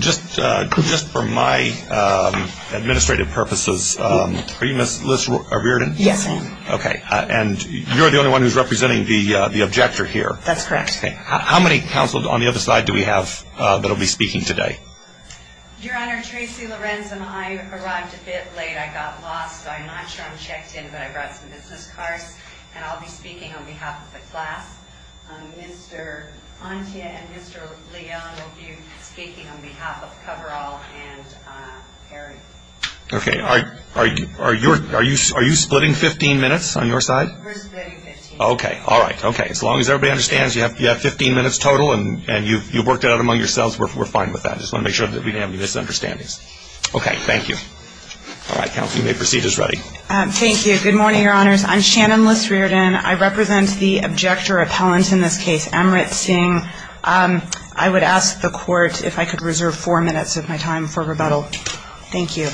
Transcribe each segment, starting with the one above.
Just for my administrative purposes, are you Ms. Liz Reardon? Yes, I am. Okay, and you're the only one who's representing the objector here. That's correct. How many counsel on the other side do we have that will be speaking today? Your Honor, Tracy Lorenz and I arrived a bit late. I got lost, so I'm not sure I'm checked in, but I brought some business cards, and I'll be speaking on behalf of the class. Mr. Antia and Mr. Leon will be speaking on behalf of Coverall and Perry. Okay, are you splitting 15 minutes on your side? We're splitting 15 minutes. Okay, all right, okay. As long as everybody understands you have 15 minutes total, and you've worked it out among yourselves, we're fine with that. I just want to make sure that we don't have any misunderstandings. Okay, thank you. All right, counsel, you may proceed as ready. Thank you. Good morning, Your Honors. I'm Shannon Liz Reardon. I represent the objector appellant in this case, Amrit Singh. I would ask the Court if I could reserve four minutes of my time for rebuttal. Thank you.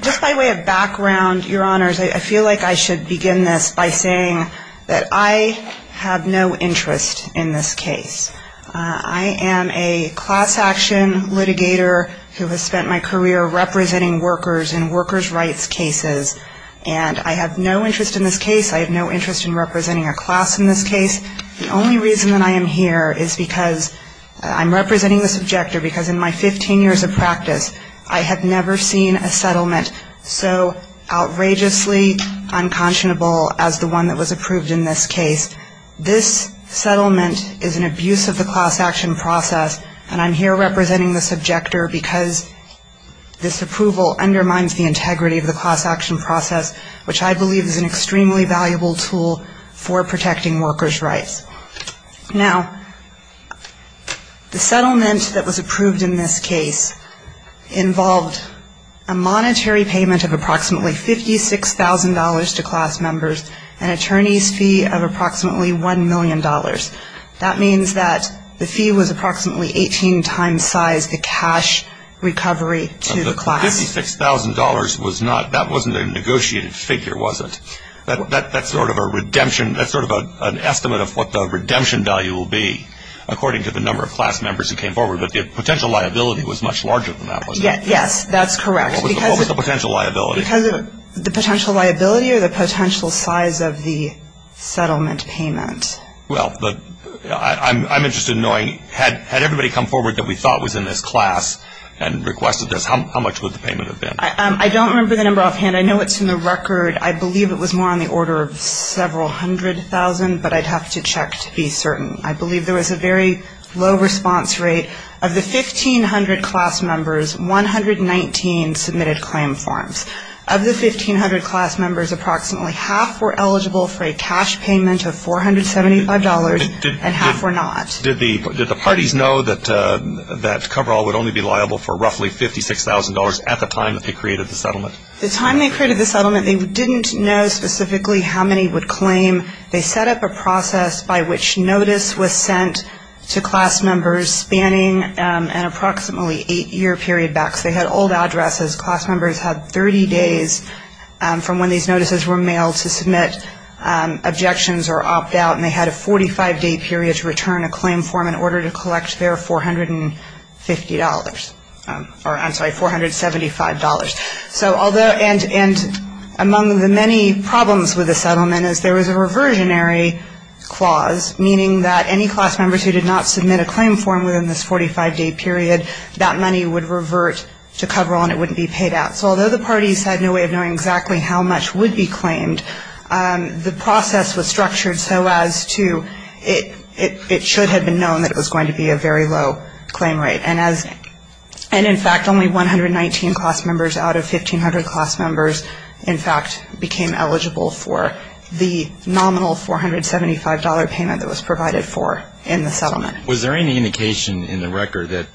Just by way of background, Your Honors, I feel like I should begin this by saying that I have no interest in this case. I am a class action litigator who has spent my career representing workers in workers' rights cases, and I have no interest in this case. I have no interest in representing a class in this case. The only reason that I am here is because I'm representing this objector because in my 15 years of practice, I have never seen a settlement so outrageously unconscionable as the one that was approved in this case. This settlement is an abuse of the class action process, and I'm here representing this objector because this approval undermines the integrity of the class action process, which I believe is an extremely valuable tool for protecting workers' rights. Now, the settlement that was approved in this case involved a monetary payment of approximately $56,000 to class members, an attorney's fee of approximately $1 million. That means that the fee was approximately 18 times size the cash recovery to the class. $56,000 was not, that wasn't a negotiated figure, was it? That's sort of a redemption, that's sort of an estimate of what the redemption value will be, according to the number of class members who came forward, but the potential liability was much larger than that, was it? Yes, that's correct. What was the potential liability? The potential liability or the potential size of the settlement payment. Well, I'm interested in knowing, had everybody come forward that we thought was in this class and requested this, how much would the payment have been? I don't remember the number offhand. I know it's in the record. I believe it was more on the order of several hundred thousand, but I'd have to check to be certain. I believe there was a very low response rate. Of the 1,500 class members, 119 submitted claim forms. Of the 1,500 class members, approximately half were eligible for a cash payment of $475, and half were not. Did the parties know that coverall would only be liable for roughly $56,000 at the time that they created the settlement? The time they created the settlement, they didn't know specifically how many would claim. They set up a process by which notice was sent to class members spanning an approximately eight-year period back. So they had old addresses. Class members had 30 days from when these notices were mailed to submit objections or opt out, and they had a 45-day period to return a claim form in order to collect their $450 or, I'm sorry, $475. So although and among the many problems with the settlement is there was a reversionary clause, meaning that any class members who did not submit a claim form within this 45-day period, that money would revert to coverall and it wouldn't be paid out. So although the parties had no way of knowing exactly how much would be claimed, the process was structured so as to it should have been known that it was going to be a very low claim rate. And, in fact, only 119 class members out of 1,500 class members, in fact, became eligible for the nominal $475 payment that was provided for in the settlement. Was there any indication in the record that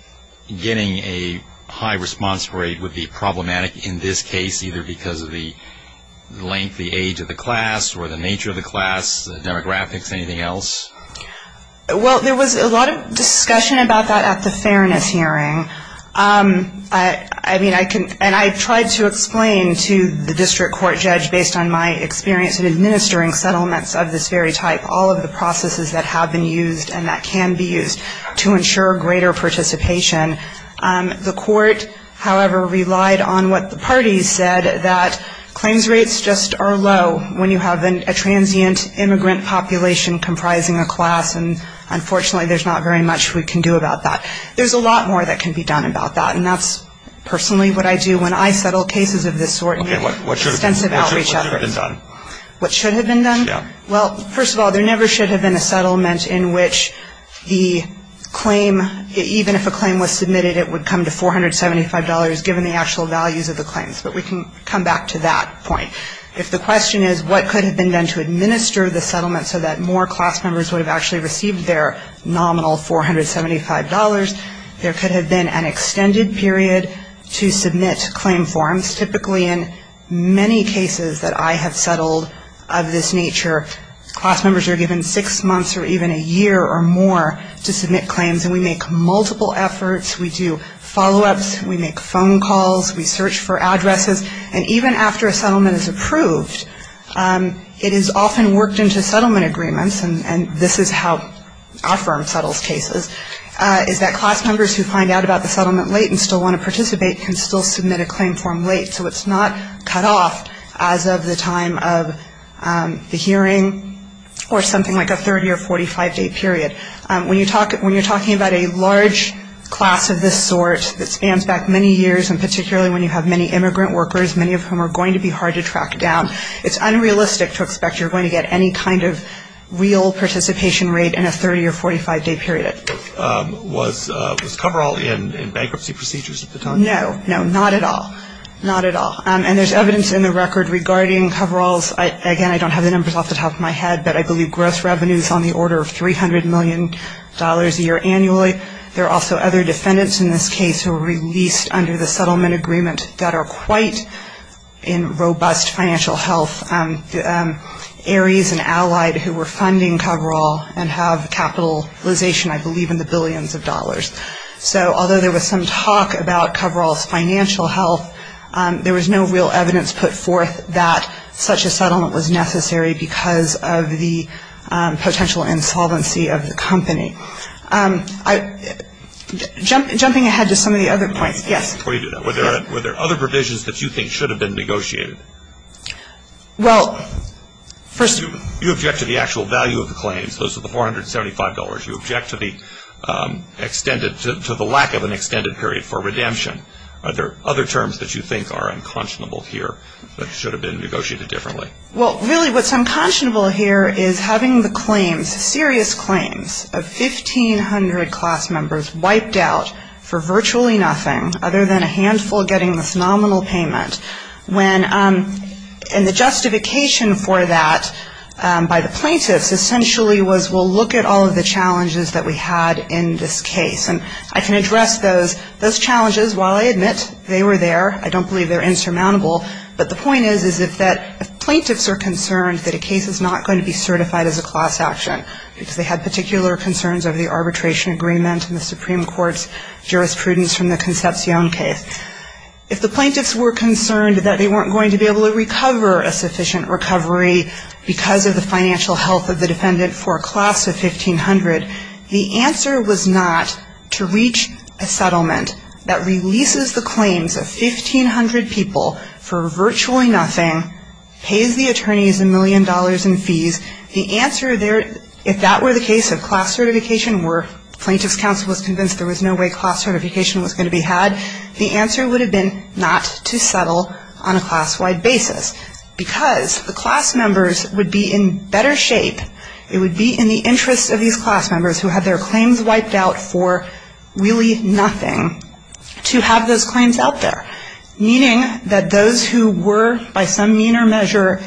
getting a high response rate would be problematic in this case, either because of the length, the age of the class, or the nature of the class, the demographics, anything else? Well, there was a lot of discussion about that at the fairness hearing. I mean, and I tried to explain to the district court judge, based on my experience in administering settlements of this very type, all of the processes that have been used and that can be used to ensure greater participation. The court, however, relied on what the parties said, that claims rates just are low when you have a transient immigrant population comprising a class. And, unfortunately, there's not very much we can do about that. There's a lot more that can be done about that. And that's personally what I do when I settle cases of this sort in extensive outreach efforts. Okay. What should have been done? What should have been done? Yeah. Well, first of all, there never should have been a settlement in which the claim, even if a claim was submitted, it would come to $475 given the actual values of the claims. But we can come back to that point. If the question is what could have been done to administer the settlement so that more class members would have actually received their nominal $475, there could have been an extended period to submit claim forms. Typically, in many cases that I have settled of this nature, class members are given six months or even a year or more to submit claims. And we make multiple efforts. We do follow-ups. We make phone calls. We search for addresses. And even after a settlement is approved, it is often worked into settlement agreements, and this is how our firm settles cases, is that class members who find out about the settlement late and still want to participate can still submit a claim form late. So it's not cut off as of the time of the hearing or something like a 30- or 45-day period. When you're talking about a large class of this sort that spans back many years, and particularly when you have many immigrant workers, many of whom are going to be hard to track down, it's unrealistic to expect you're going to get any kind of real participation rate in a 30- or 45-day period. Was coverall in bankruptcy procedures at the time? No. No, not at all. Not at all. And there's evidence in the record regarding coveralls. Again, I don't have the numbers off the top of my head, but I believe gross revenue is on the order of $300 million a year annually. There are also other defendants in this case who were released under the settlement agreement that are quite in robust financial health, Aries and Allied, who were funding coverall and have capitalization, I believe, in the billions of dollars. So although there was some talk about coverall's financial health, there was no real evidence put forth that such a settlement was necessary because of the potential insolvency of the company. Jumping ahead to some of the other points. Yes. Before you do that, were there other provisions that you think should have been negotiated? Well, first of all. You object to the actual value of the claims. Those are the $475. You object to the extended, to the lack of an extended period for redemption. Are there other terms that you think are unconscionable here that should have been negotiated differently? Well, really what's unconscionable here is having the claims, serious claims of 1,500 class members wiped out for virtually nothing, other than a handful getting this nominal payment. And the justification for that by the plaintiffs essentially was, well, look at all of the challenges that we had in this case. And I can address those. Those challenges, while I admit they were there, I don't believe they're insurmountable, but the point is is that if plaintiffs are concerned that a case is not going to be certified as a class action because they had particular concerns over the arbitration agreement and the Supreme Court's jurisprudence from the Concepcion case, if the plaintiffs were concerned that they weren't going to be able to recover a sufficient recovery because of the financial health of the defendant for a class of 1,500, the answer was not to reach a settlement that releases the claims of 1,500 people for virtually nothing, pays the attorneys a million dollars in fees. The answer there, if that were the case of class certification where the Plaintiffs' Counsel was convinced there was no way class certification was going to be had, the answer would have been not to settle on a class-wide basis because the class members would be in better shape, it would be in the interest of these class members who had their claims wiped out for really nothing to have those claims out there, meaning that those who were by some mean or measure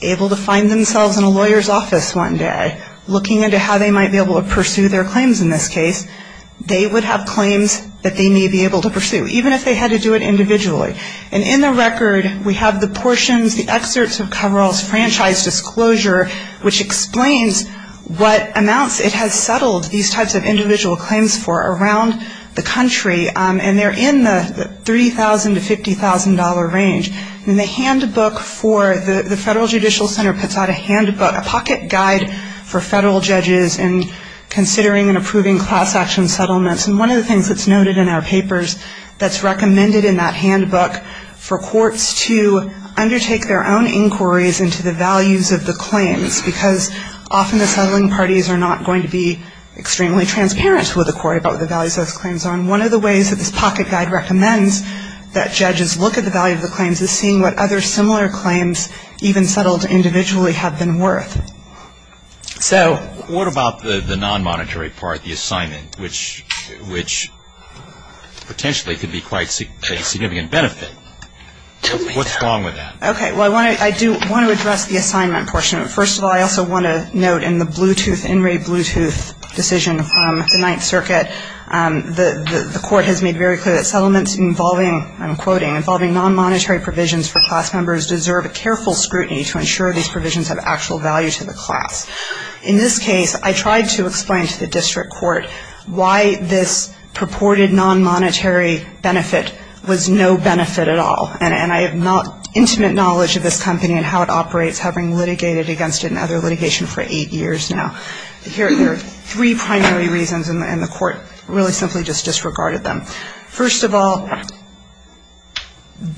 able to find themselves in a lawyer's office one day looking into how they might be able to pursue their claims in this case, they would have claims that they may be able to pursue, even if they had to do it individually. And in the record, we have the portions, the excerpts of Coverall's franchise disclosure, which explains what amounts it has settled these types of individual claims for around the country, and they're in the $3,000 to $50,000 range. And the handbook for the Federal Judicial Center puts out a handbook, a pocket guide for Federal judges in considering and approving class action settlements. And one of the things that's noted in our papers that's recommended in that handbook for courts to undertake their own inquiries into the values of the claims, because often the settling parties are not going to be extremely transparent with the court about what the values of those claims are. And one of the ways that this pocket guide recommends that judges look at the value of the claims is seeing what other similar claims, even settled individually, have been worth. So. What about the non-monetary part, the assignment, which potentially could be quite a significant benefit? Tell me that. What's wrong with that? Okay. Well, I do want to address the assignment portion. First of all, I also want to note in the Bluetooth, in-ray Bluetooth decision from the Ninth Circuit, the court has made very clear that settlements involving, I'm quoting, involving non-monetary provisions for class members deserve careful scrutiny to ensure these provisions have actual value to the class. In this case, I tried to explain to the district court why this purported non-monetary benefit was no benefit at all. And I have not intimate knowledge of this company and how it operates, having litigated against it in other litigation for eight years now. There are three primary reasons, and the court really simply just disregarded them. First of all,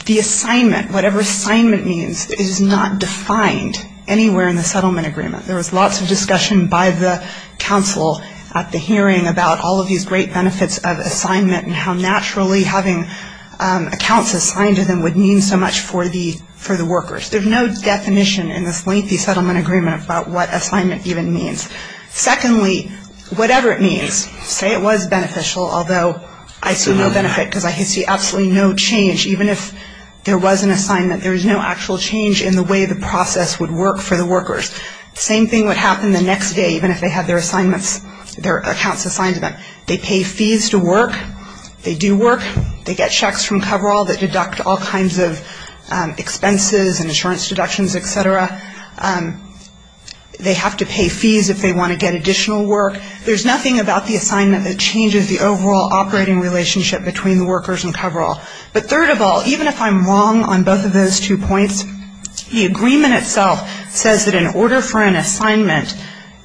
the assignment, whatever assignment means, is not defined anywhere in the settlement agreement. There was lots of discussion by the counsel at the hearing about all of these great benefits of assignment and how naturally having accounts assigned to them would mean so much for the workers. There's no definition in this lengthy settlement agreement about what assignment even means. Secondly, whatever it means, say it was beneficial, although I see no benefit because I see absolutely no change. Even if there was an assignment, there is no actual change in the way the process would work for the workers. Same thing would happen the next day, even if they had their assignments, their accounts assigned to them. They pay fees to work. They do work. They get checks from Coverall that deduct all kinds of expenses and insurance deductions, et cetera. They have to pay fees if they want to get additional work. There's nothing about the assignment that changes the overall operating relationship between the workers and Coverall. But third of all, even if I'm wrong on both of those two points, the agreement itself says that in order for an assignment,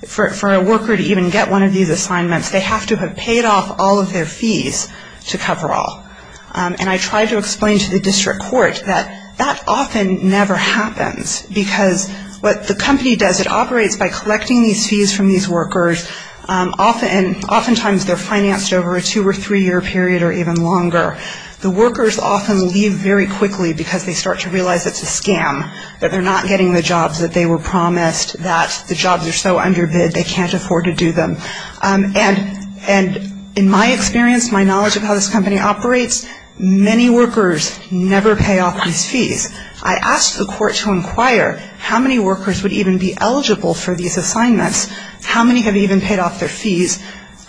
for a worker to even get one of these assignments, they have to have paid off all of their fees to Coverall. And I tried to explain to the district court that that often never happens, because what the company does, it operates by collecting these fees from these workers, and oftentimes they're financed over a two- or three-year period or even longer. The workers often leave very quickly because they start to realize it's a scam, that they're not getting the jobs that they were promised, that the jobs are so underbid they can't afford to do them. And in my experience, my knowledge of how this company operates, many workers never pay off these fees. I asked the court to inquire how many workers would even be eligible for these assignments, how many have even paid off their fees.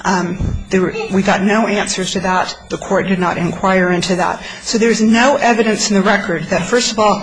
We got no answers to that. The court did not inquire into that. So there's no evidence in the record that, first of all,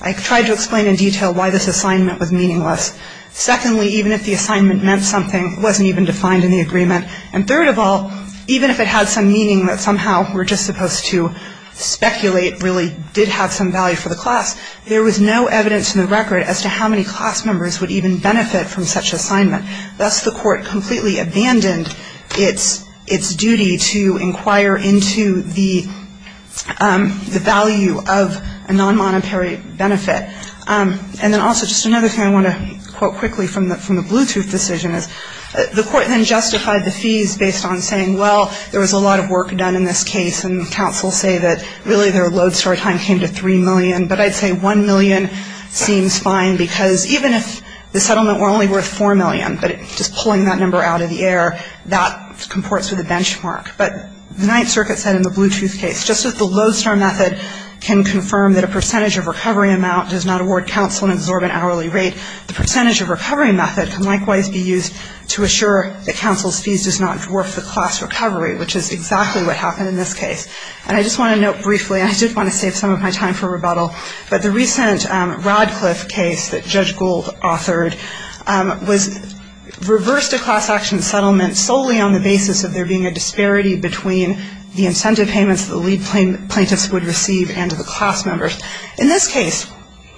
I tried to explain in detail why this assignment was meaningless. Secondly, even if the assignment meant something, it wasn't even defined in the agreement. And third of all, even if it had some meaning that somehow we're just supposed to speculate really did have some value for the class, there was no evidence in the record as to how many class members would even benefit from such assignment. Thus, the court completely abandoned its duty to inquire into the value of a non-monetary benefit. And then also just another thing I want to quote quickly from the Bluetooth decision is, the court then justified the fees based on saying, well, there was a lot of work done in this case, and the counsels say that really their lodestar time came to 3 million. But I'd say 1 million seems fine because even if the settlement were only worth 4 million, but just pulling that number out of the air, that comports with the benchmark. But the Ninth Circuit said in the Bluetooth case, just as the lodestar method can confirm that a percentage of recovery amount does not award counsel and absorb an hourly rate, the percentage of recovery method can likewise be used to assure that counsel's fees does not dwarf the class recovery, which is exactly what happened in this case. And I just want to note briefly, and I did want to save some of my time for rebuttal, but the recent Radcliffe case that Judge Gould authored reversed a class action settlement solely on the basis of there being a disparity between the incentive payments the lead plaintiffs would receive and the class members. In this case,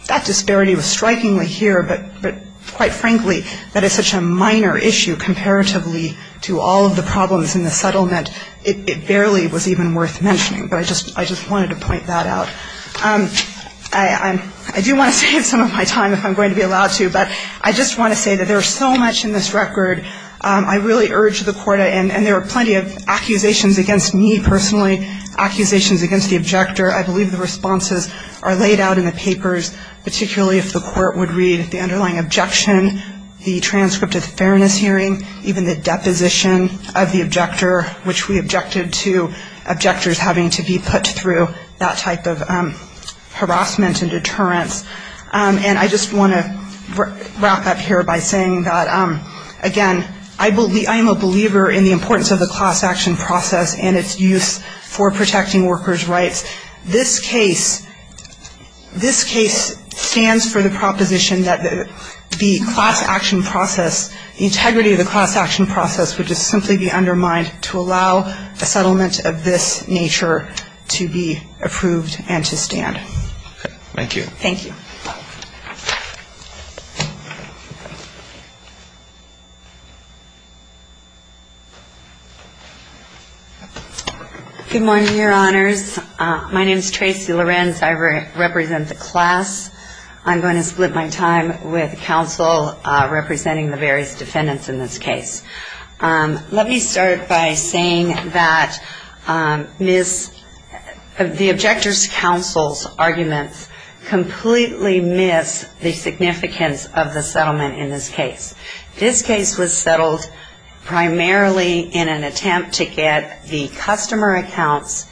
that disparity was strikingly here, but quite frankly, that is such a minor issue comparatively to all of the problems in the settlement, it barely was even worth mentioning. But I just wanted to point that out. I do want to save some of my time if I'm going to be allowed to, but I just want to say that there is so much in this record. I really urge the court, and there are plenty of accusations against me personally, accusations against the objector. I believe the responses are laid out in the papers, particularly if the court would read the underlying objection, the transcript of the fairness hearing, even the deposition of the objector, which we objected to objectors having to be put through that type of harassment and deterrence. And I just want to wrap up here by saying that, again, I am a believer in the importance of the class action process and its use for protecting workers' rights. This case, this case stands for the proposition that the class action process, the integrity of the class action process would just simply be undermined to allow a settlement of this nature to be approved and to stand. Thank you. Thank you. Good morning, Your Honors. My name is Tracy Lorenz. I represent the class. I'm going to split my time with counsel representing the various defendants in this case. Let me start by saying that the objector's counsel's arguments completely miss the significance of the settlement in this case. This case was settled primarily in an attempt to get the customer accounts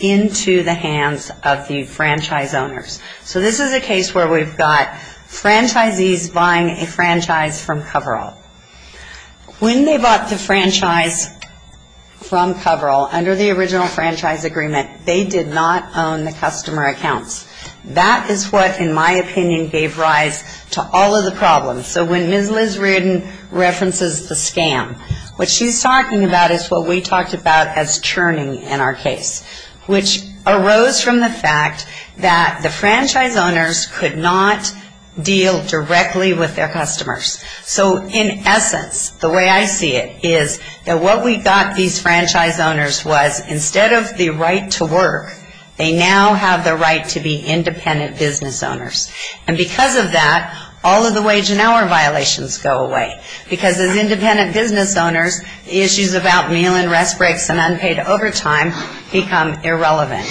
into the hands of the franchise owners. So this is a case where we've got franchisees buying a franchise from Coverall. When they bought the franchise from Coverall, under the original franchise agreement, they did not own the customer accounts. That is what, in my opinion, gave rise to all of the problems. So when Ms. Liz Reardon references the scam, what she's talking about is what we talked about as churning in our case, which arose from the fact that the franchise owners could not deal directly with their customers. So in essence, the way I see it is that what we got these franchise owners was instead of the right to work, they now have the right to be independent business owners. And because of that, all of the wage and hour violations go away. Because as independent business owners, issues about meal and rest breaks and unpaid overtime become irrelevant.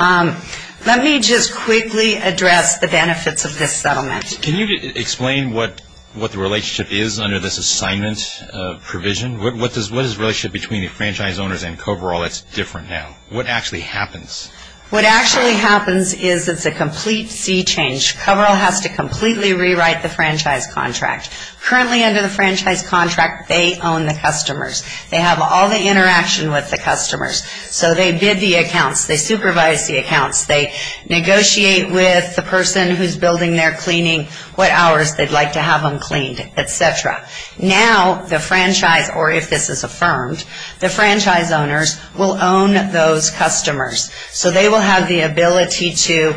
Let me just quickly address the benefits of this settlement. Can you explain what the relationship is under this assignment provision? What is the relationship between the franchise owners and Coverall that's different now? What actually happens? What actually happens is it's a complete sea change. Coverall has to completely rewrite the franchise contract. Currently under the franchise contract, they own the customers. They have all the interaction with the customers. So they bid the accounts. They supervise the accounts. They negotiate with the person who's building their cleaning, what hours they'd like to have them cleaned, et cetera. Now the franchise, or if this is affirmed, the franchise owners will own those customers. So they will have the ability to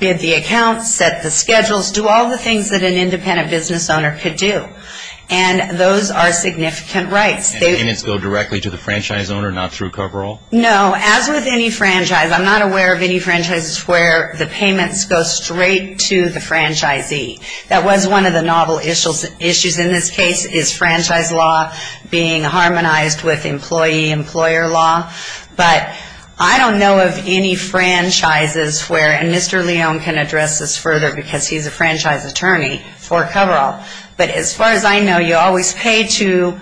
bid the accounts, set the schedules, do all the things that an independent business owner could do. And those are significant rights. And the payments go directly to the franchise owner, not through Coverall? No. As with any franchise, I'm not aware of any franchises where the payments go straight to the franchisee. That was one of the novel issues in this case is franchise law being harmonized with employee-employer law. But I don't know of any franchises where Mr. Leone can address this further because he's a franchise attorney for Coverall. But as far as I know, you always pay to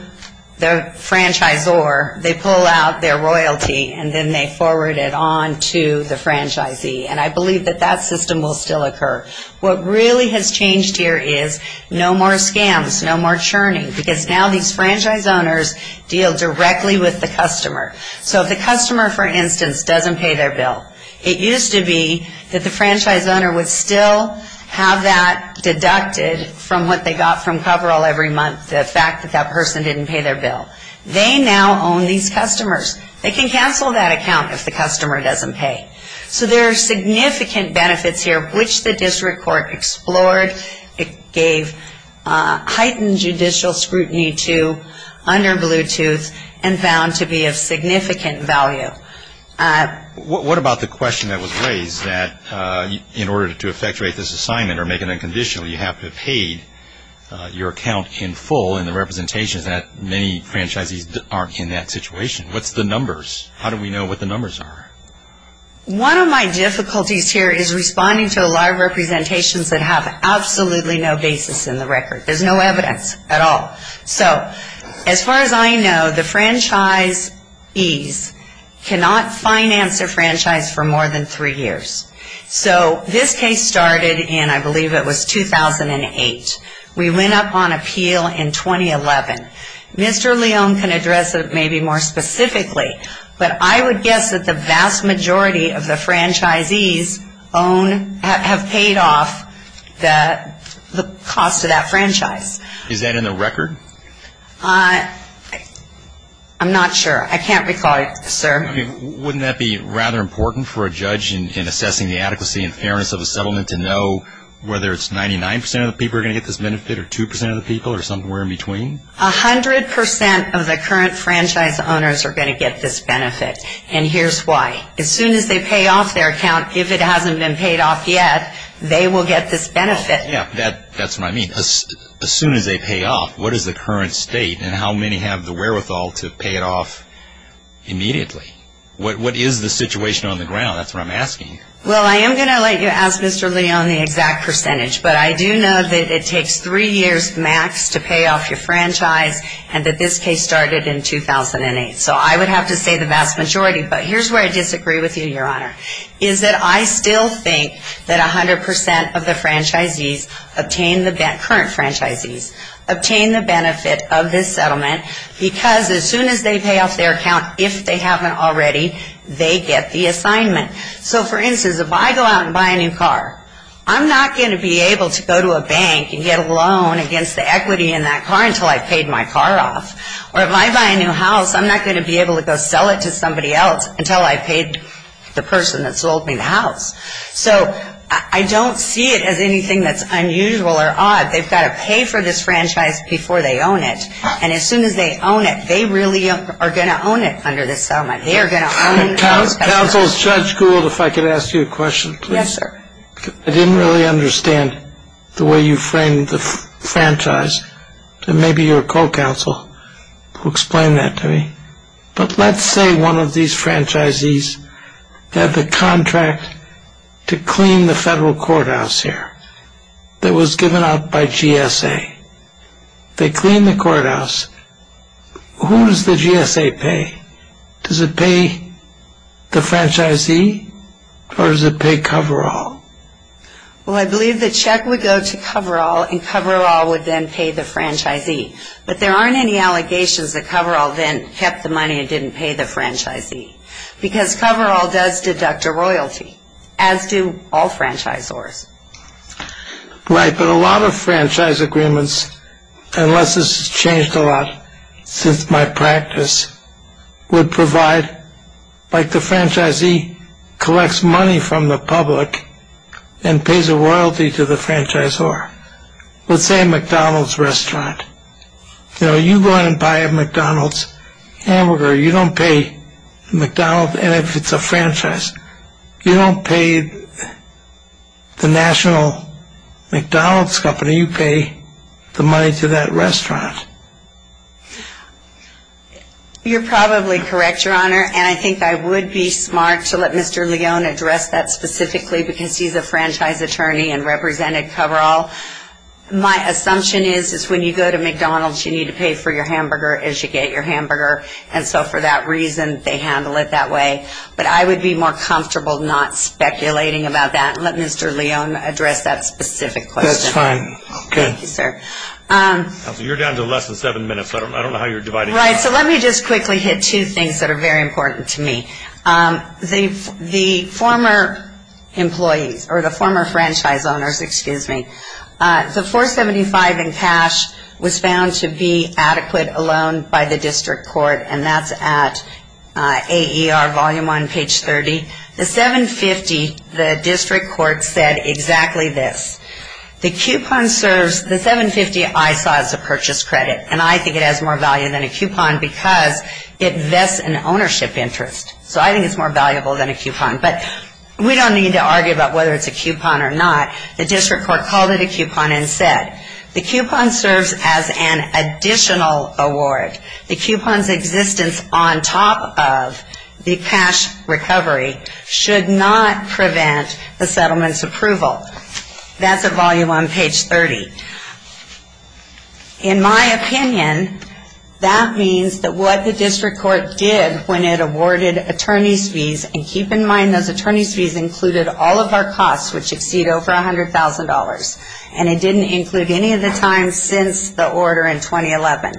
the franchisor. They pull out their royalty, and then they forward it on to the franchisee. And I believe that that system will still occur. What really has changed here is no more scams, no more churning, because now these franchise owners deal directly with the customer. So if the customer, for instance, doesn't pay their bill, it used to be that the franchise owner would still have that deducted from what they got from Coverall every month, the fact that that person didn't pay their bill. They now own these customers. They can cancel that account if the customer doesn't pay. So there are significant benefits here, which the district court explored. It gave heightened judicial scrutiny to under Bluetooth and found to be of significant value. What about the question that was raised that in order to effectuate this assignment or make it unconditional, you have to have paid your account in full in the representations. Many franchisees aren't in that situation. What's the numbers? How do we know what the numbers are? One of my difficulties here is responding to a lot of representations that have absolutely no basis in the record. There's no evidence at all. So as far as I know, the franchisees cannot finance their franchise for more than three years. So this case started in I believe it was 2008. We went up on appeal in 2011. Mr. Leone can address it maybe more specifically, but I would guess that the vast majority of the franchisees own have paid off the cost of that franchise. Is that in the record? I can't recall, sir. Wouldn't that be rather important for a judge in assessing the adequacy and fairness of a settlement to know whether it's 99% of the people are going to get this benefit or 2% of the people or somewhere in between? 100% of the current franchise owners are going to get this benefit, and here's why. As soon as they pay off their account, if it hasn't been paid off yet, they will get this benefit. Yeah, that's what I mean. As soon as they pay off, what is the current state and how many have the wherewithal to pay it off immediately? What is the situation on the ground? That's what I'm asking. Well, I am going to let you ask Mr. Leone the exact percentage, but I do know that it takes three years max to pay off your franchise and that this case started in 2008. So I would have to say the vast majority, but here's where I disagree with you, Your Honor, is that I still think that 100% of the current franchisees obtain the benefit of this settlement because as soon as they pay off their account, if they haven't already, they get the assignment. So, for instance, if I go out and buy a new car, I'm not going to be able to go to a bank and get a loan against the equity in that car until I've paid my car off. Or if I buy a new house, I'm not going to be able to go sell it to somebody else until I've paid the person that sold me the house. So I don't see it as anything that's unusual or odd. They've got to pay for this franchise before they own it. And as soon as they own it, they really are going to own it under this settlement. They are going to own it. Counsel, Judge Gould, if I could ask you a question, please. I didn't really understand the way you framed the franchise. And maybe your co-counsel will explain that to me. But let's say one of these franchisees had the contract to clean the federal courthouse here that was given out by GSA. They clean the courthouse. Who does the GSA pay? Does it pay the franchisee or does it pay Coverall? Well, I believe the check would go to Coverall, and Coverall would then pay the franchisee. But there aren't any allegations that Coverall then kept the money and didn't pay the franchisee. Because Coverall does deduct a royalty, as do all franchisors. Right, but a lot of franchise agreements, unless this has changed a lot since my practice, would provide, like the franchisee collects money from the public and pays a royalty to the franchisor. Let's say a McDonald's restaurant. You know, you go in and buy a McDonald's hamburger, you don't pay McDonald's, and if it's a franchise, you don't pay the national McDonald's company, you pay the money to that restaurant. You're probably correct, Your Honor. And I think I would be smart to let Mr. Leone address that specifically, because he's a franchise attorney and represented Coverall. My assumption is, is when you go to McDonald's, you need to pay for your hamburger as you get your hamburger. And so for that reason, they handle it that way. But I would be more comfortable not speculating about that. Let Mr. Leone address that specific question. That's fine. Okay. Thank you, sir. Counsel, you're down to less than seven minutes. I don't know how you're dividing that up. Right. So let me just quickly hit two things that are very important to me. The former employees, or the former franchise owners, excuse me, the $475,000 in cash was found to be adequate alone by the district court, and that's at AER volume 1, page 30. The $750,000, the district court said exactly this. The coupon serves, the $750,000 I saw as a purchase credit, and I think it has more value than a coupon because it vests an ownership interest. So I think it's more valuable than a coupon. But we don't need to argue about whether it's a coupon or not. The district court called it a coupon and said the coupon serves as an additional award. The coupon's existence on top of the cash recovery should not prevent the settlement's approval. That's at volume 1, page 30. In my opinion, that means that what the district court did when it awarded attorney's fees, and keep in mind those attorney's fees included all of our costs, which exceed over $100,000, and it didn't include any of the times since the order in 2011.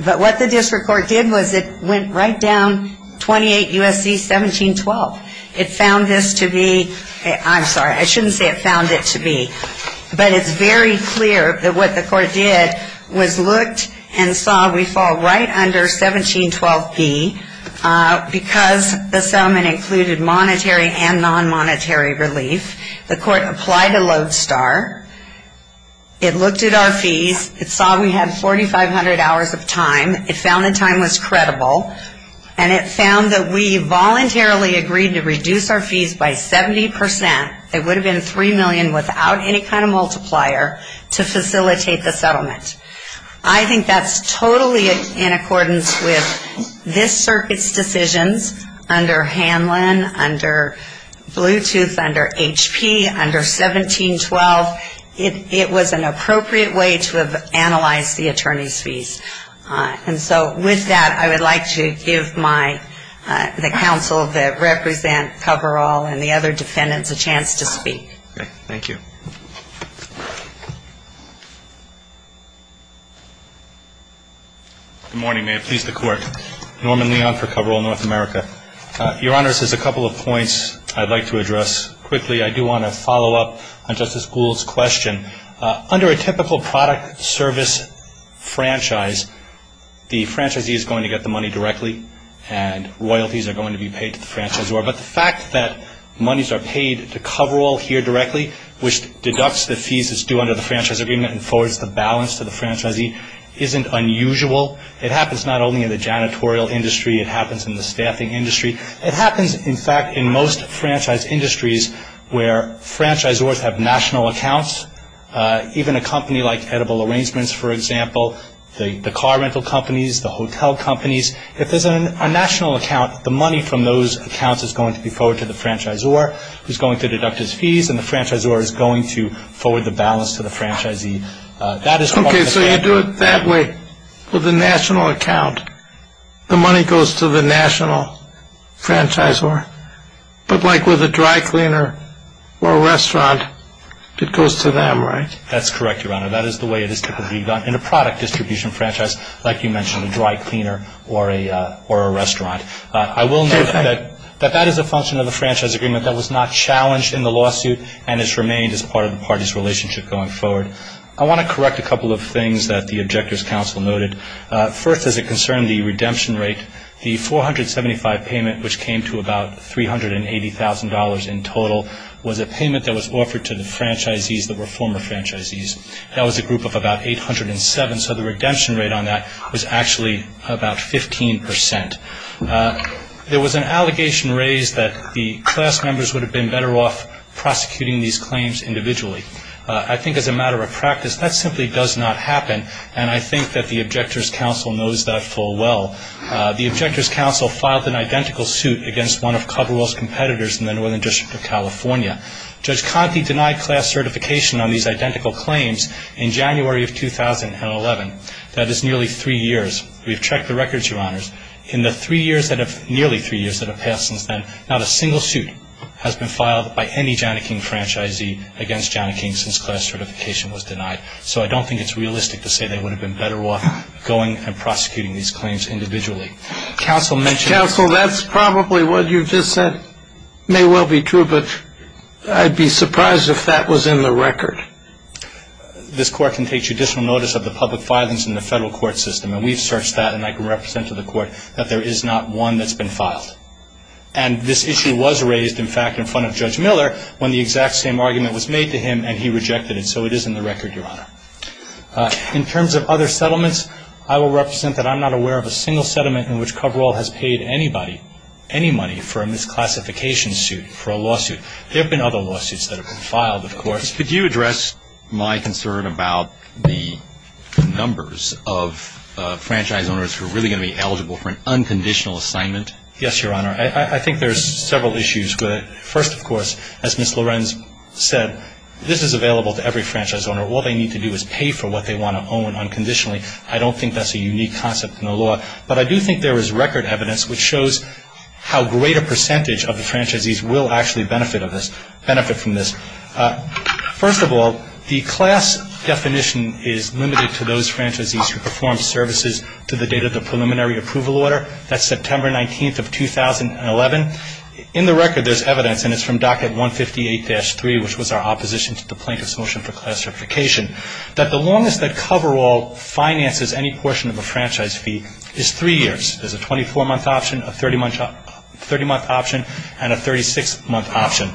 But what the district court did was it went right down 28 U.S.C. 1712. It found this to be, I'm sorry, I shouldn't say it found it to be, but it's very clear that what the court did was looked and saw we fall right under 1712B because the settlement included monetary and non-monetary relief. The court applied a lodestar. It looked at our fees. It saw we had 4,500 hours of time. It found the time was credible. And it found that we voluntarily agreed to reduce our fees by 70%. It would have been $3 million without any kind of multiplier to facilitate the settlement. I think that's totally in accordance with this circuit's decisions under Hanlon, under Bluetooth, under HP, under 1712. It was an appropriate way to have analyzed the attorney's fees. And so with that, I would like to give the counsel that represent Coverall and the other defendants a chance to speak. Okay. Thank you. Good morning, ma'am. Please, the court. Norman Leon for Coverall North America. Your Honor, this is a couple of points I'd like to address quickly. I do want to follow up on Justice Gould's question. Under a typical product service franchise, the franchisee is going to get the money directly, and royalties are going to be paid to the franchisor. But the fact that monies are paid to Coverall here directly, which deducts the fees that's due under the franchise agreement and forwards the balance to the franchisee, isn't unusual. It happens not only in the janitorial industry. It happens in the staffing industry. It happens, in fact, in most franchise industries where franchisors have national accounts. Even a company like Edible Arrangements, for example, the car rental companies, the hotel companies, if there's a national account, the money from those accounts is going to be forwarded to the franchisor, who's going to deduct his fees, and the franchisor is going to forward the balance to the franchisee. That is part of the thing. Okay, so you do it that way. With a national account, the money goes to the national franchisor, but like with a dry cleaner or a restaurant, it goes to them, right? That's correct, Your Honor. That is the way it is typically done in a product distribution franchise, like you mentioned, a dry cleaner or a restaurant. I will note that that is a function of the franchise agreement. That was not challenged in the lawsuit and has remained as part of the party's relationship going forward. I want to correct a couple of things that the Objectors' Counsel noted. First, as it concerned the redemption rate, the $475 payment, which came to about $380,000 in total, was a payment that was offered to the franchisees that were former franchisees. That was a group of about 807, so the redemption rate on that was actually about 15%. There was an allegation raised that the class members would have been better off prosecuting these claims individually. I think as a matter of practice, that simply does not happen, and I think that the Objectors' Counsel knows that full well. The Objectors' Counsel filed an identical suit against one of Coverwell's competitors in the Northern District of California. Judge Conte denied class certification on these identical claims in January of 2011. That is nearly three years. We've checked the records, Your Honors. In the nearly three years that have passed since then, not a single suit has been filed by any Johnnie King franchisee against Johnnie King since class certification was denied. So I don't think it's realistic to say they would have been better off going and prosecuting these claims individually. Counsel, that's probably what you just said may well be true, but I'd be surprised if that was in the record. This Court can take judicial notice of the public filings in the federal court system, and we've searched that, and I can represent to the Court that there is not one that's been filed. And this issue was raised, in fact, in front of Judge Miller when the exact same argument was made to him, and he rejected it, so it is in the record, Your Honor. In terms of other settlements, I will represent that I'm not aware of a single settlement in which Coverwell has paid anybody, any money for a misclassification suit, for a lawsuit. There have been other lawsuits that have been filed, of course. Could you address my concern about the numbers of franchise owners who are really going to be eligible for an unconditional assignment? Yes, Your Honor. I think there's several issues. First, of course, as Ms. Lorenz said, this is available to every franchise owner. All they need to do is pay for what they want to own unconditionally. I don't think that's a unique concept in the law, but I do think there is record evidence which shows how great a percentage of the franchisees will actually benefit from this. First of all, the class definition is limited to those franchisees who perform services to the date of the preliminary approval order. That's September 19th of 2011. In the record, there's evidence, and it's from Docket 158-3, which was our opposition to the Plaintiff's Motion for Classification, that the longest that Coverwell finances any portion of a franchise fee is three years. There's a 24-month option, a 30-month option, and a 36-month option.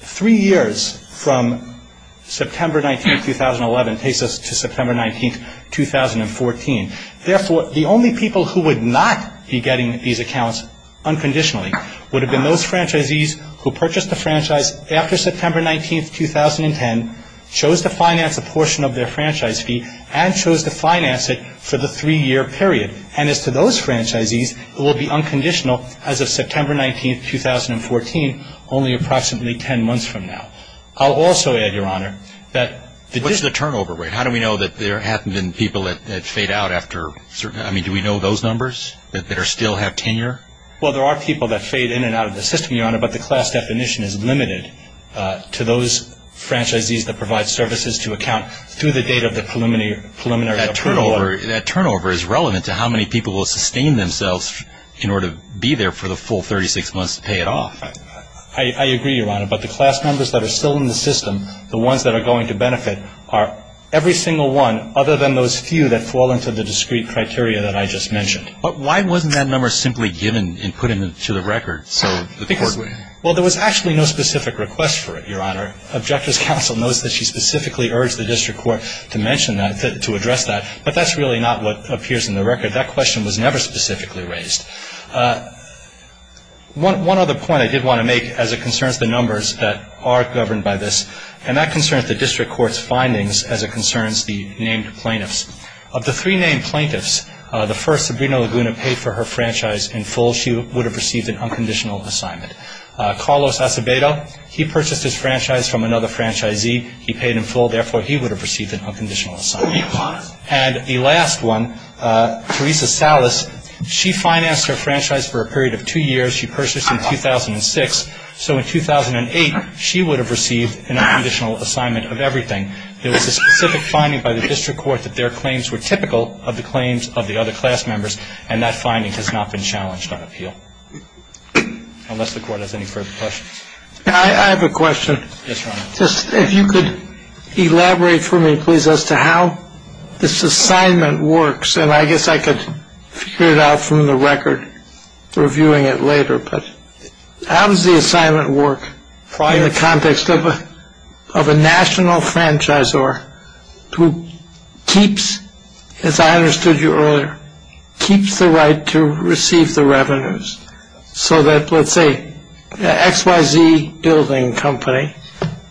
Three years from September 19th, 2011, takes us to September 19th, 2014. Therefore, the only people who would not be getting these accounts unconditionally would have been those franchisees who purchased a franchise after September 19th, 2010, chose to finance a portion of their franchise fee, and chose to finance it for the three-year period. And as to those franchisees, it will be unconditional as of September 19th, 2014, only approximately ten months from now. I'll also add, Your Honor, that this is a turnover rate. I mean, how do we know that there haven't been people that fade out after certain – I mean, do we know those numbers that still have tenure? Well, there are people that fade in and out of the system, Your Honor, but the class definition is limited to those franchisees that provide services to account through the date of the preliminary approval order. That turnover is relevant to how many people will sustain themselves in order to be there for the full 36 months to pay it off. I agree, Your Honor, but the class numbers that are still in the system, the ones that are going to benefit, are every single one other than those few that fall into the discrete criteria that I just mentioned. But why wasn't that number simply given and put into the record? Well, there was actually no specific request for it, Your Honor. Objector's counsel knows that she specifically urged the district court to mention that, to address that, but that's really not what appears in the record. That question was never specifically raised. One other point I did want to make as it concerns the numbers that are governed by this, and that concerns the district court's findings as it concerns the named plaintiffs. Of the three named plaintiffs, the first, Sabrina Laguna, paid for her franchise in full. She would have received an unconditional assignment. Carlos Acevedo, he purchased his franchise from another franchisee. He paid in full. Therefore, he would have received an unconditional assignment. And the last one, Teresa Salas, she financed her franchise for a period of two years. She purchased in 2006. So in 2008, she would have received an unconditional assignment of everything. There was a specific finding by the district court that their claims were typical of the claims of the other class members, and that finding has not been challenged on appeal, unless the court has any further questions. I have a question. Yes, Your Honor. Just if you could elaborate for me, please, as to how this assignment works, and I guess I could figure it out from the record reviewing it later, but how does the assignment work in the context of a national franchisor who keeps, as I understood you earlier, keeps the right to receive the revenues, so that, let's say, XYZ Building Company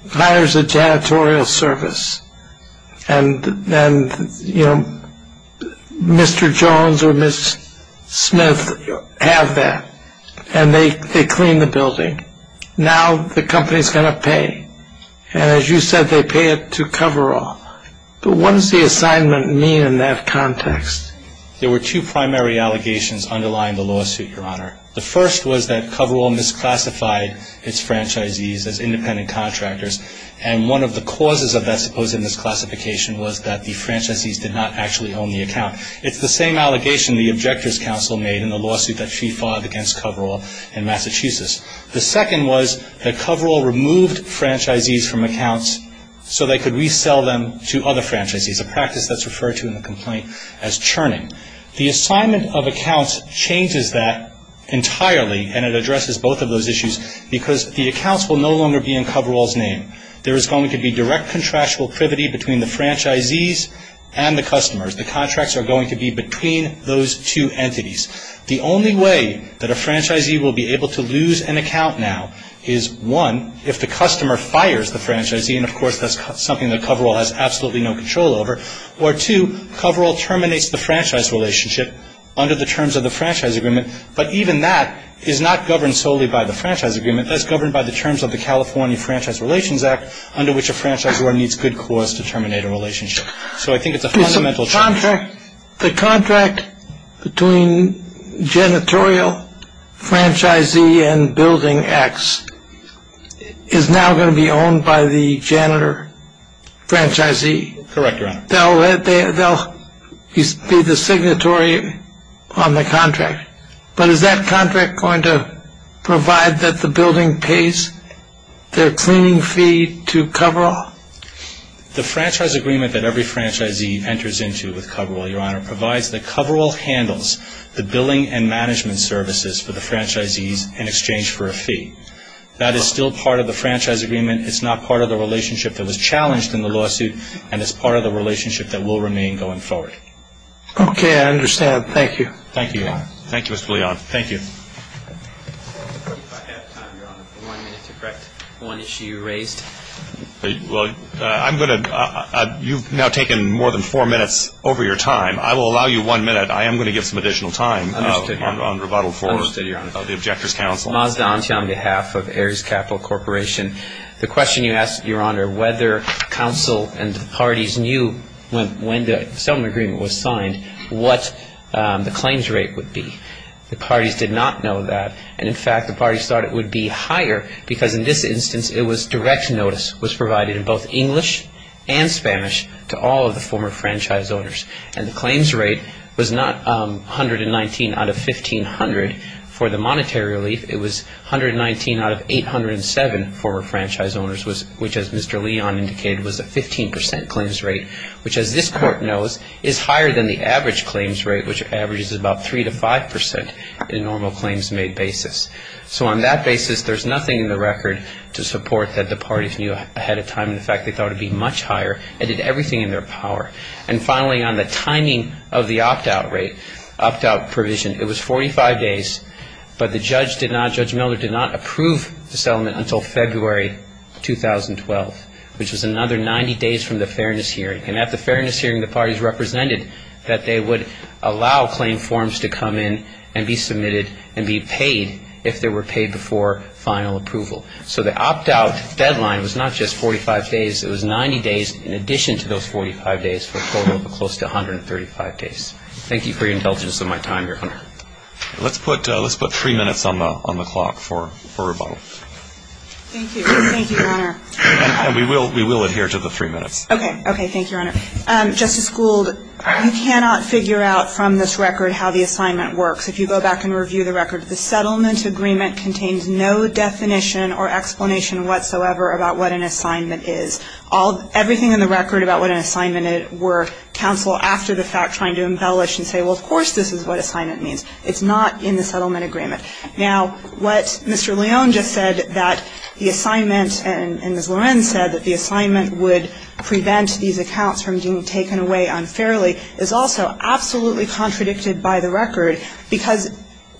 hires a janitorial service, and Mr. Jones or Ms. Smith have that, and they clean the building. Now the company is going to pay, and as you said, they pay it to cover all. But what does the assignment mean in that context? There were two primary allegations underlying the lawsuit, Your Honor. The first was that Coverall misclassified its franchisees as independent contractors, and one of the causes of that supposed misclassification was that the franchisees did not actually own the account. It's the same allegation the Objectors' Counsel made in the lawsuit that she filed against Coverall in Massachusetts. The second was that Coverall removed franchisees from accounts so they could resell them to other franchisees, a practice that's referred to in the complaint as churning. The assignment of accounts changes that entirely, and it addresses both of those issues, because the accounts will no longer be in Coverall's name. There is going to be direct contractual privity between the franchisees and the customers. The contracts are going to be between those two entities. The only way that a franchisee will be able to lose an account now is, one, if the customer fires the franchisee, and, of course, that's something that Coverall has absolutely no control over, or, two, Coverall terminates the franchise relationship under the terms of the franchise agreement, but even that is not governed solely by the franchise agreement. That's governed by the terms of the California Franchise Relations Act, under which a franchisor needs good cause to terminate a relationship. So I think it's a fundamental change. Your Honor, the contract between janitorial franchisee and building X is now going to be owned by the janitor franchisee. Correct, Your Honor. They'll be the signatory on the contract, but is that contract going to provide that the building pays their cleaning fee to Coverall? The franchise agreement that every franchisee enters into with Coverall, Your Honor, provides that Coverall handles the billing and management services for the franchisees in exchange for a fee. That is still part of the franchise agreement. It's not part of the relationship that was challenged in the lawsuit, and it's part of the relationship that will remain going forward. Okay. I understand. Thank you. Thank you. Thank you, Mr. Leon. Thank you. If I had time, Your Honor, for one minute to correct one issue you raised. Well, I'm going to – you've now taken more than four minutes over your time. I will allow you one minute. I am going to give some additional time on rebuttal for the objector's counsel. Understood, Your Honor. Mazda, on behalf of Ares Capital Corporation, the question you asked, Your Honor, whether counsel and the parties knew when the settlement agreement was signed what the claims rate would be. The parties did not know that, and in fact, the parties thought it would be higher because in this instance it was direct notice was provided in both English and Spanish to all of the former franchise owners, and the claims rate was not 119 out of 1,500 for the monetary relief. It was 119 out of 807 former franchise owners, which, as Mr. Leon indicated, was a 15 percent claims rate, which, as this Court knows, is higher than the average claims rate, which averages about 3 to 5 percent in a normal claims-made basis. So on that basis, there's nothing in the record to support that the parties knew ahead of time. In fact, they thought it would be much higher. It did everything in their power. And finally, on the timing of the opt-out rate, opt-out provision, it was 45 days, but the judge did not, Judge Miller, did not approve the settlement until February 2012, which was another 90 days from the fairness hearing. And at the fairness hearing, the parties represented that they would allow claim forms to come in and be submitted and be paid if they were paid before final approval. So the opt-out deadline was not just 45 days. It was 90 days in addition to those 45 days for a total of close to 135 days. Thank you for your intelligence of my time here, Hunter. Let's put three minutes on the clock for rebuttal. Thank you. Thank you, Hunter. And we will adhere to the three minutes. Okay. Okay. Thank you, Hunter. Justice Gould, you cannot figure out from this record how the assignment works. If you go back and review the record, the settlement agreement contains no definition or explanation whatsoever about what an assignment is. Everything in the record about what an assignment were counsel, after the fact, trying to embellish and say, well, of course this is what assignment means. It's not in the settlement agreement. Now, what Mr. Leone just said, that the assignment, and as Loren said, that the assignment would prevent these accounts from being taken away unfairly, is also absolutely contradicted by the record because,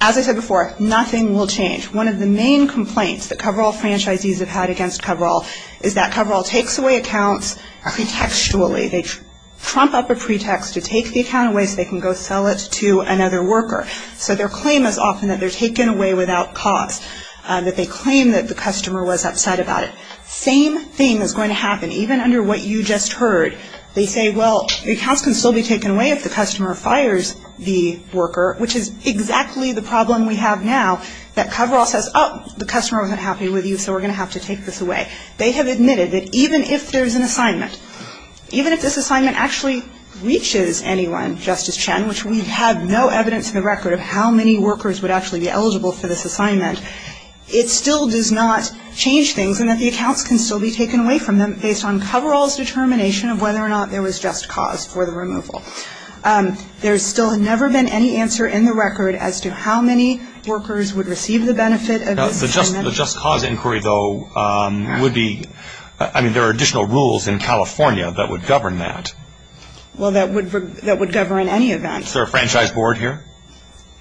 as I said before, nothing will change. One of the main complaints that coverall franchisees have had against coverall is that coverall takes away accounts pretextually. They trump up a pretext to take the account away so they can go sell it to another worker. So their claim is often that they're taken away without cause, that they claim that the customer was upset about it. Same thing is going to happen, even under what you just heard. They say, well, the accounts can still be taken away if the customer fires the worker, which is exactly the problem we have now, that coverall says, oh, the customer wasn't happy with you, so we're going to have to take this away. They have admitted that even if there's an assignment, even if this assignment actually reaches anyone, Justice Chen, which we have no evidence in the record of how many workers would actually be eligible for this assignment, it still does not change things in that the accounts can still be taken away from them based on coverall's determination of whether or not there was just cause for the removal. There still has never been any answer in the record as to how many workers would receive the benefit of this assignment. Now, the just cause inquiry, though, would be, I mean, there are additional rules in California that would govern that. Well, that would govern any event. Is there a franchise board here?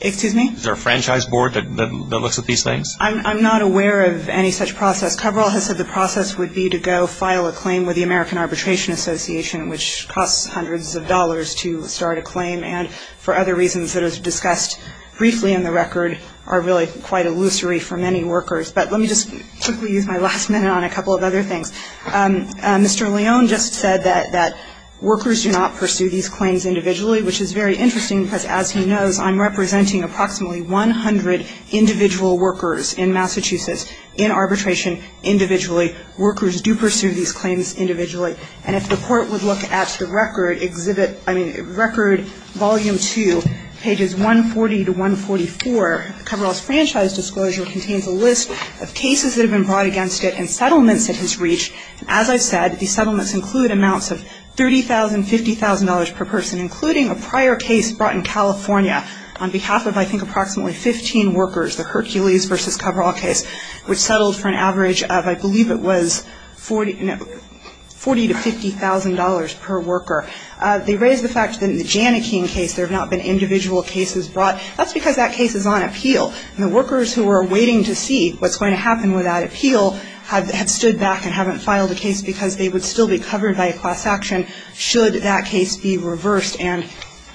Excuse me? Is there a franchise board that looks at these things? I'm not aware of any such process. Coverall has said the process would be to go file a claim with the American Arbitration Association, which costs hundreds of dollars to start a claim, and for other reasons that are discussed briefly in the record are really quite illusory for many workers. But let me just quickly use my last minute on a couple of other things. Mr. Leone just said that workers do not pursue these claims individually, which is very interesting because, as he knows, I'm representing approximately 100 individual workers in Massachusetts in arbitration individually. Workers do pursue these claims individually. And if the Court would look at the record, exhibit, I mean, record volume 2, pages 140 to 144, coverall's franchise disclosure contains a list of cases that have been brought against it and settlements it has reached. As I said, these settlements include amounts of $30,000, $50,000 per person, including a prior case brought in California on behalf of, I think, approximately 15 workers, the Hercules v. Coverall case, which settled for an average of, I believe it was, $40,000 to $50,000 per worker. They raise the fact that in the Jannekeen case there have not been individual cases brought. That's because that case is on appeal, and the workers who are waiting to see what's going to happen with that appeal have stood back and haven't filed a case because they would still be covered by a class action should that case be reversed. And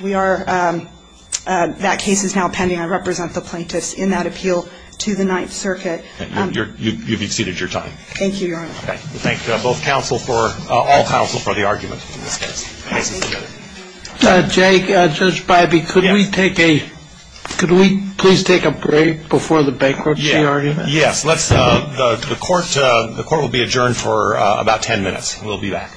we are – that case is now pending. I represent the plaintiffs in that appeal to the Ninth Circuit. You've exceeded your time. Thank you, Your Honor. Okay. We thank both counsel for – all counsel for the argument in this case. Thank you. Jake, Judge Bybee, could we take a – could we please take a break before the bankruptcy argument? Yes. Let's – the Court will be adjourned for about ten minutes. We'll be back. All rise.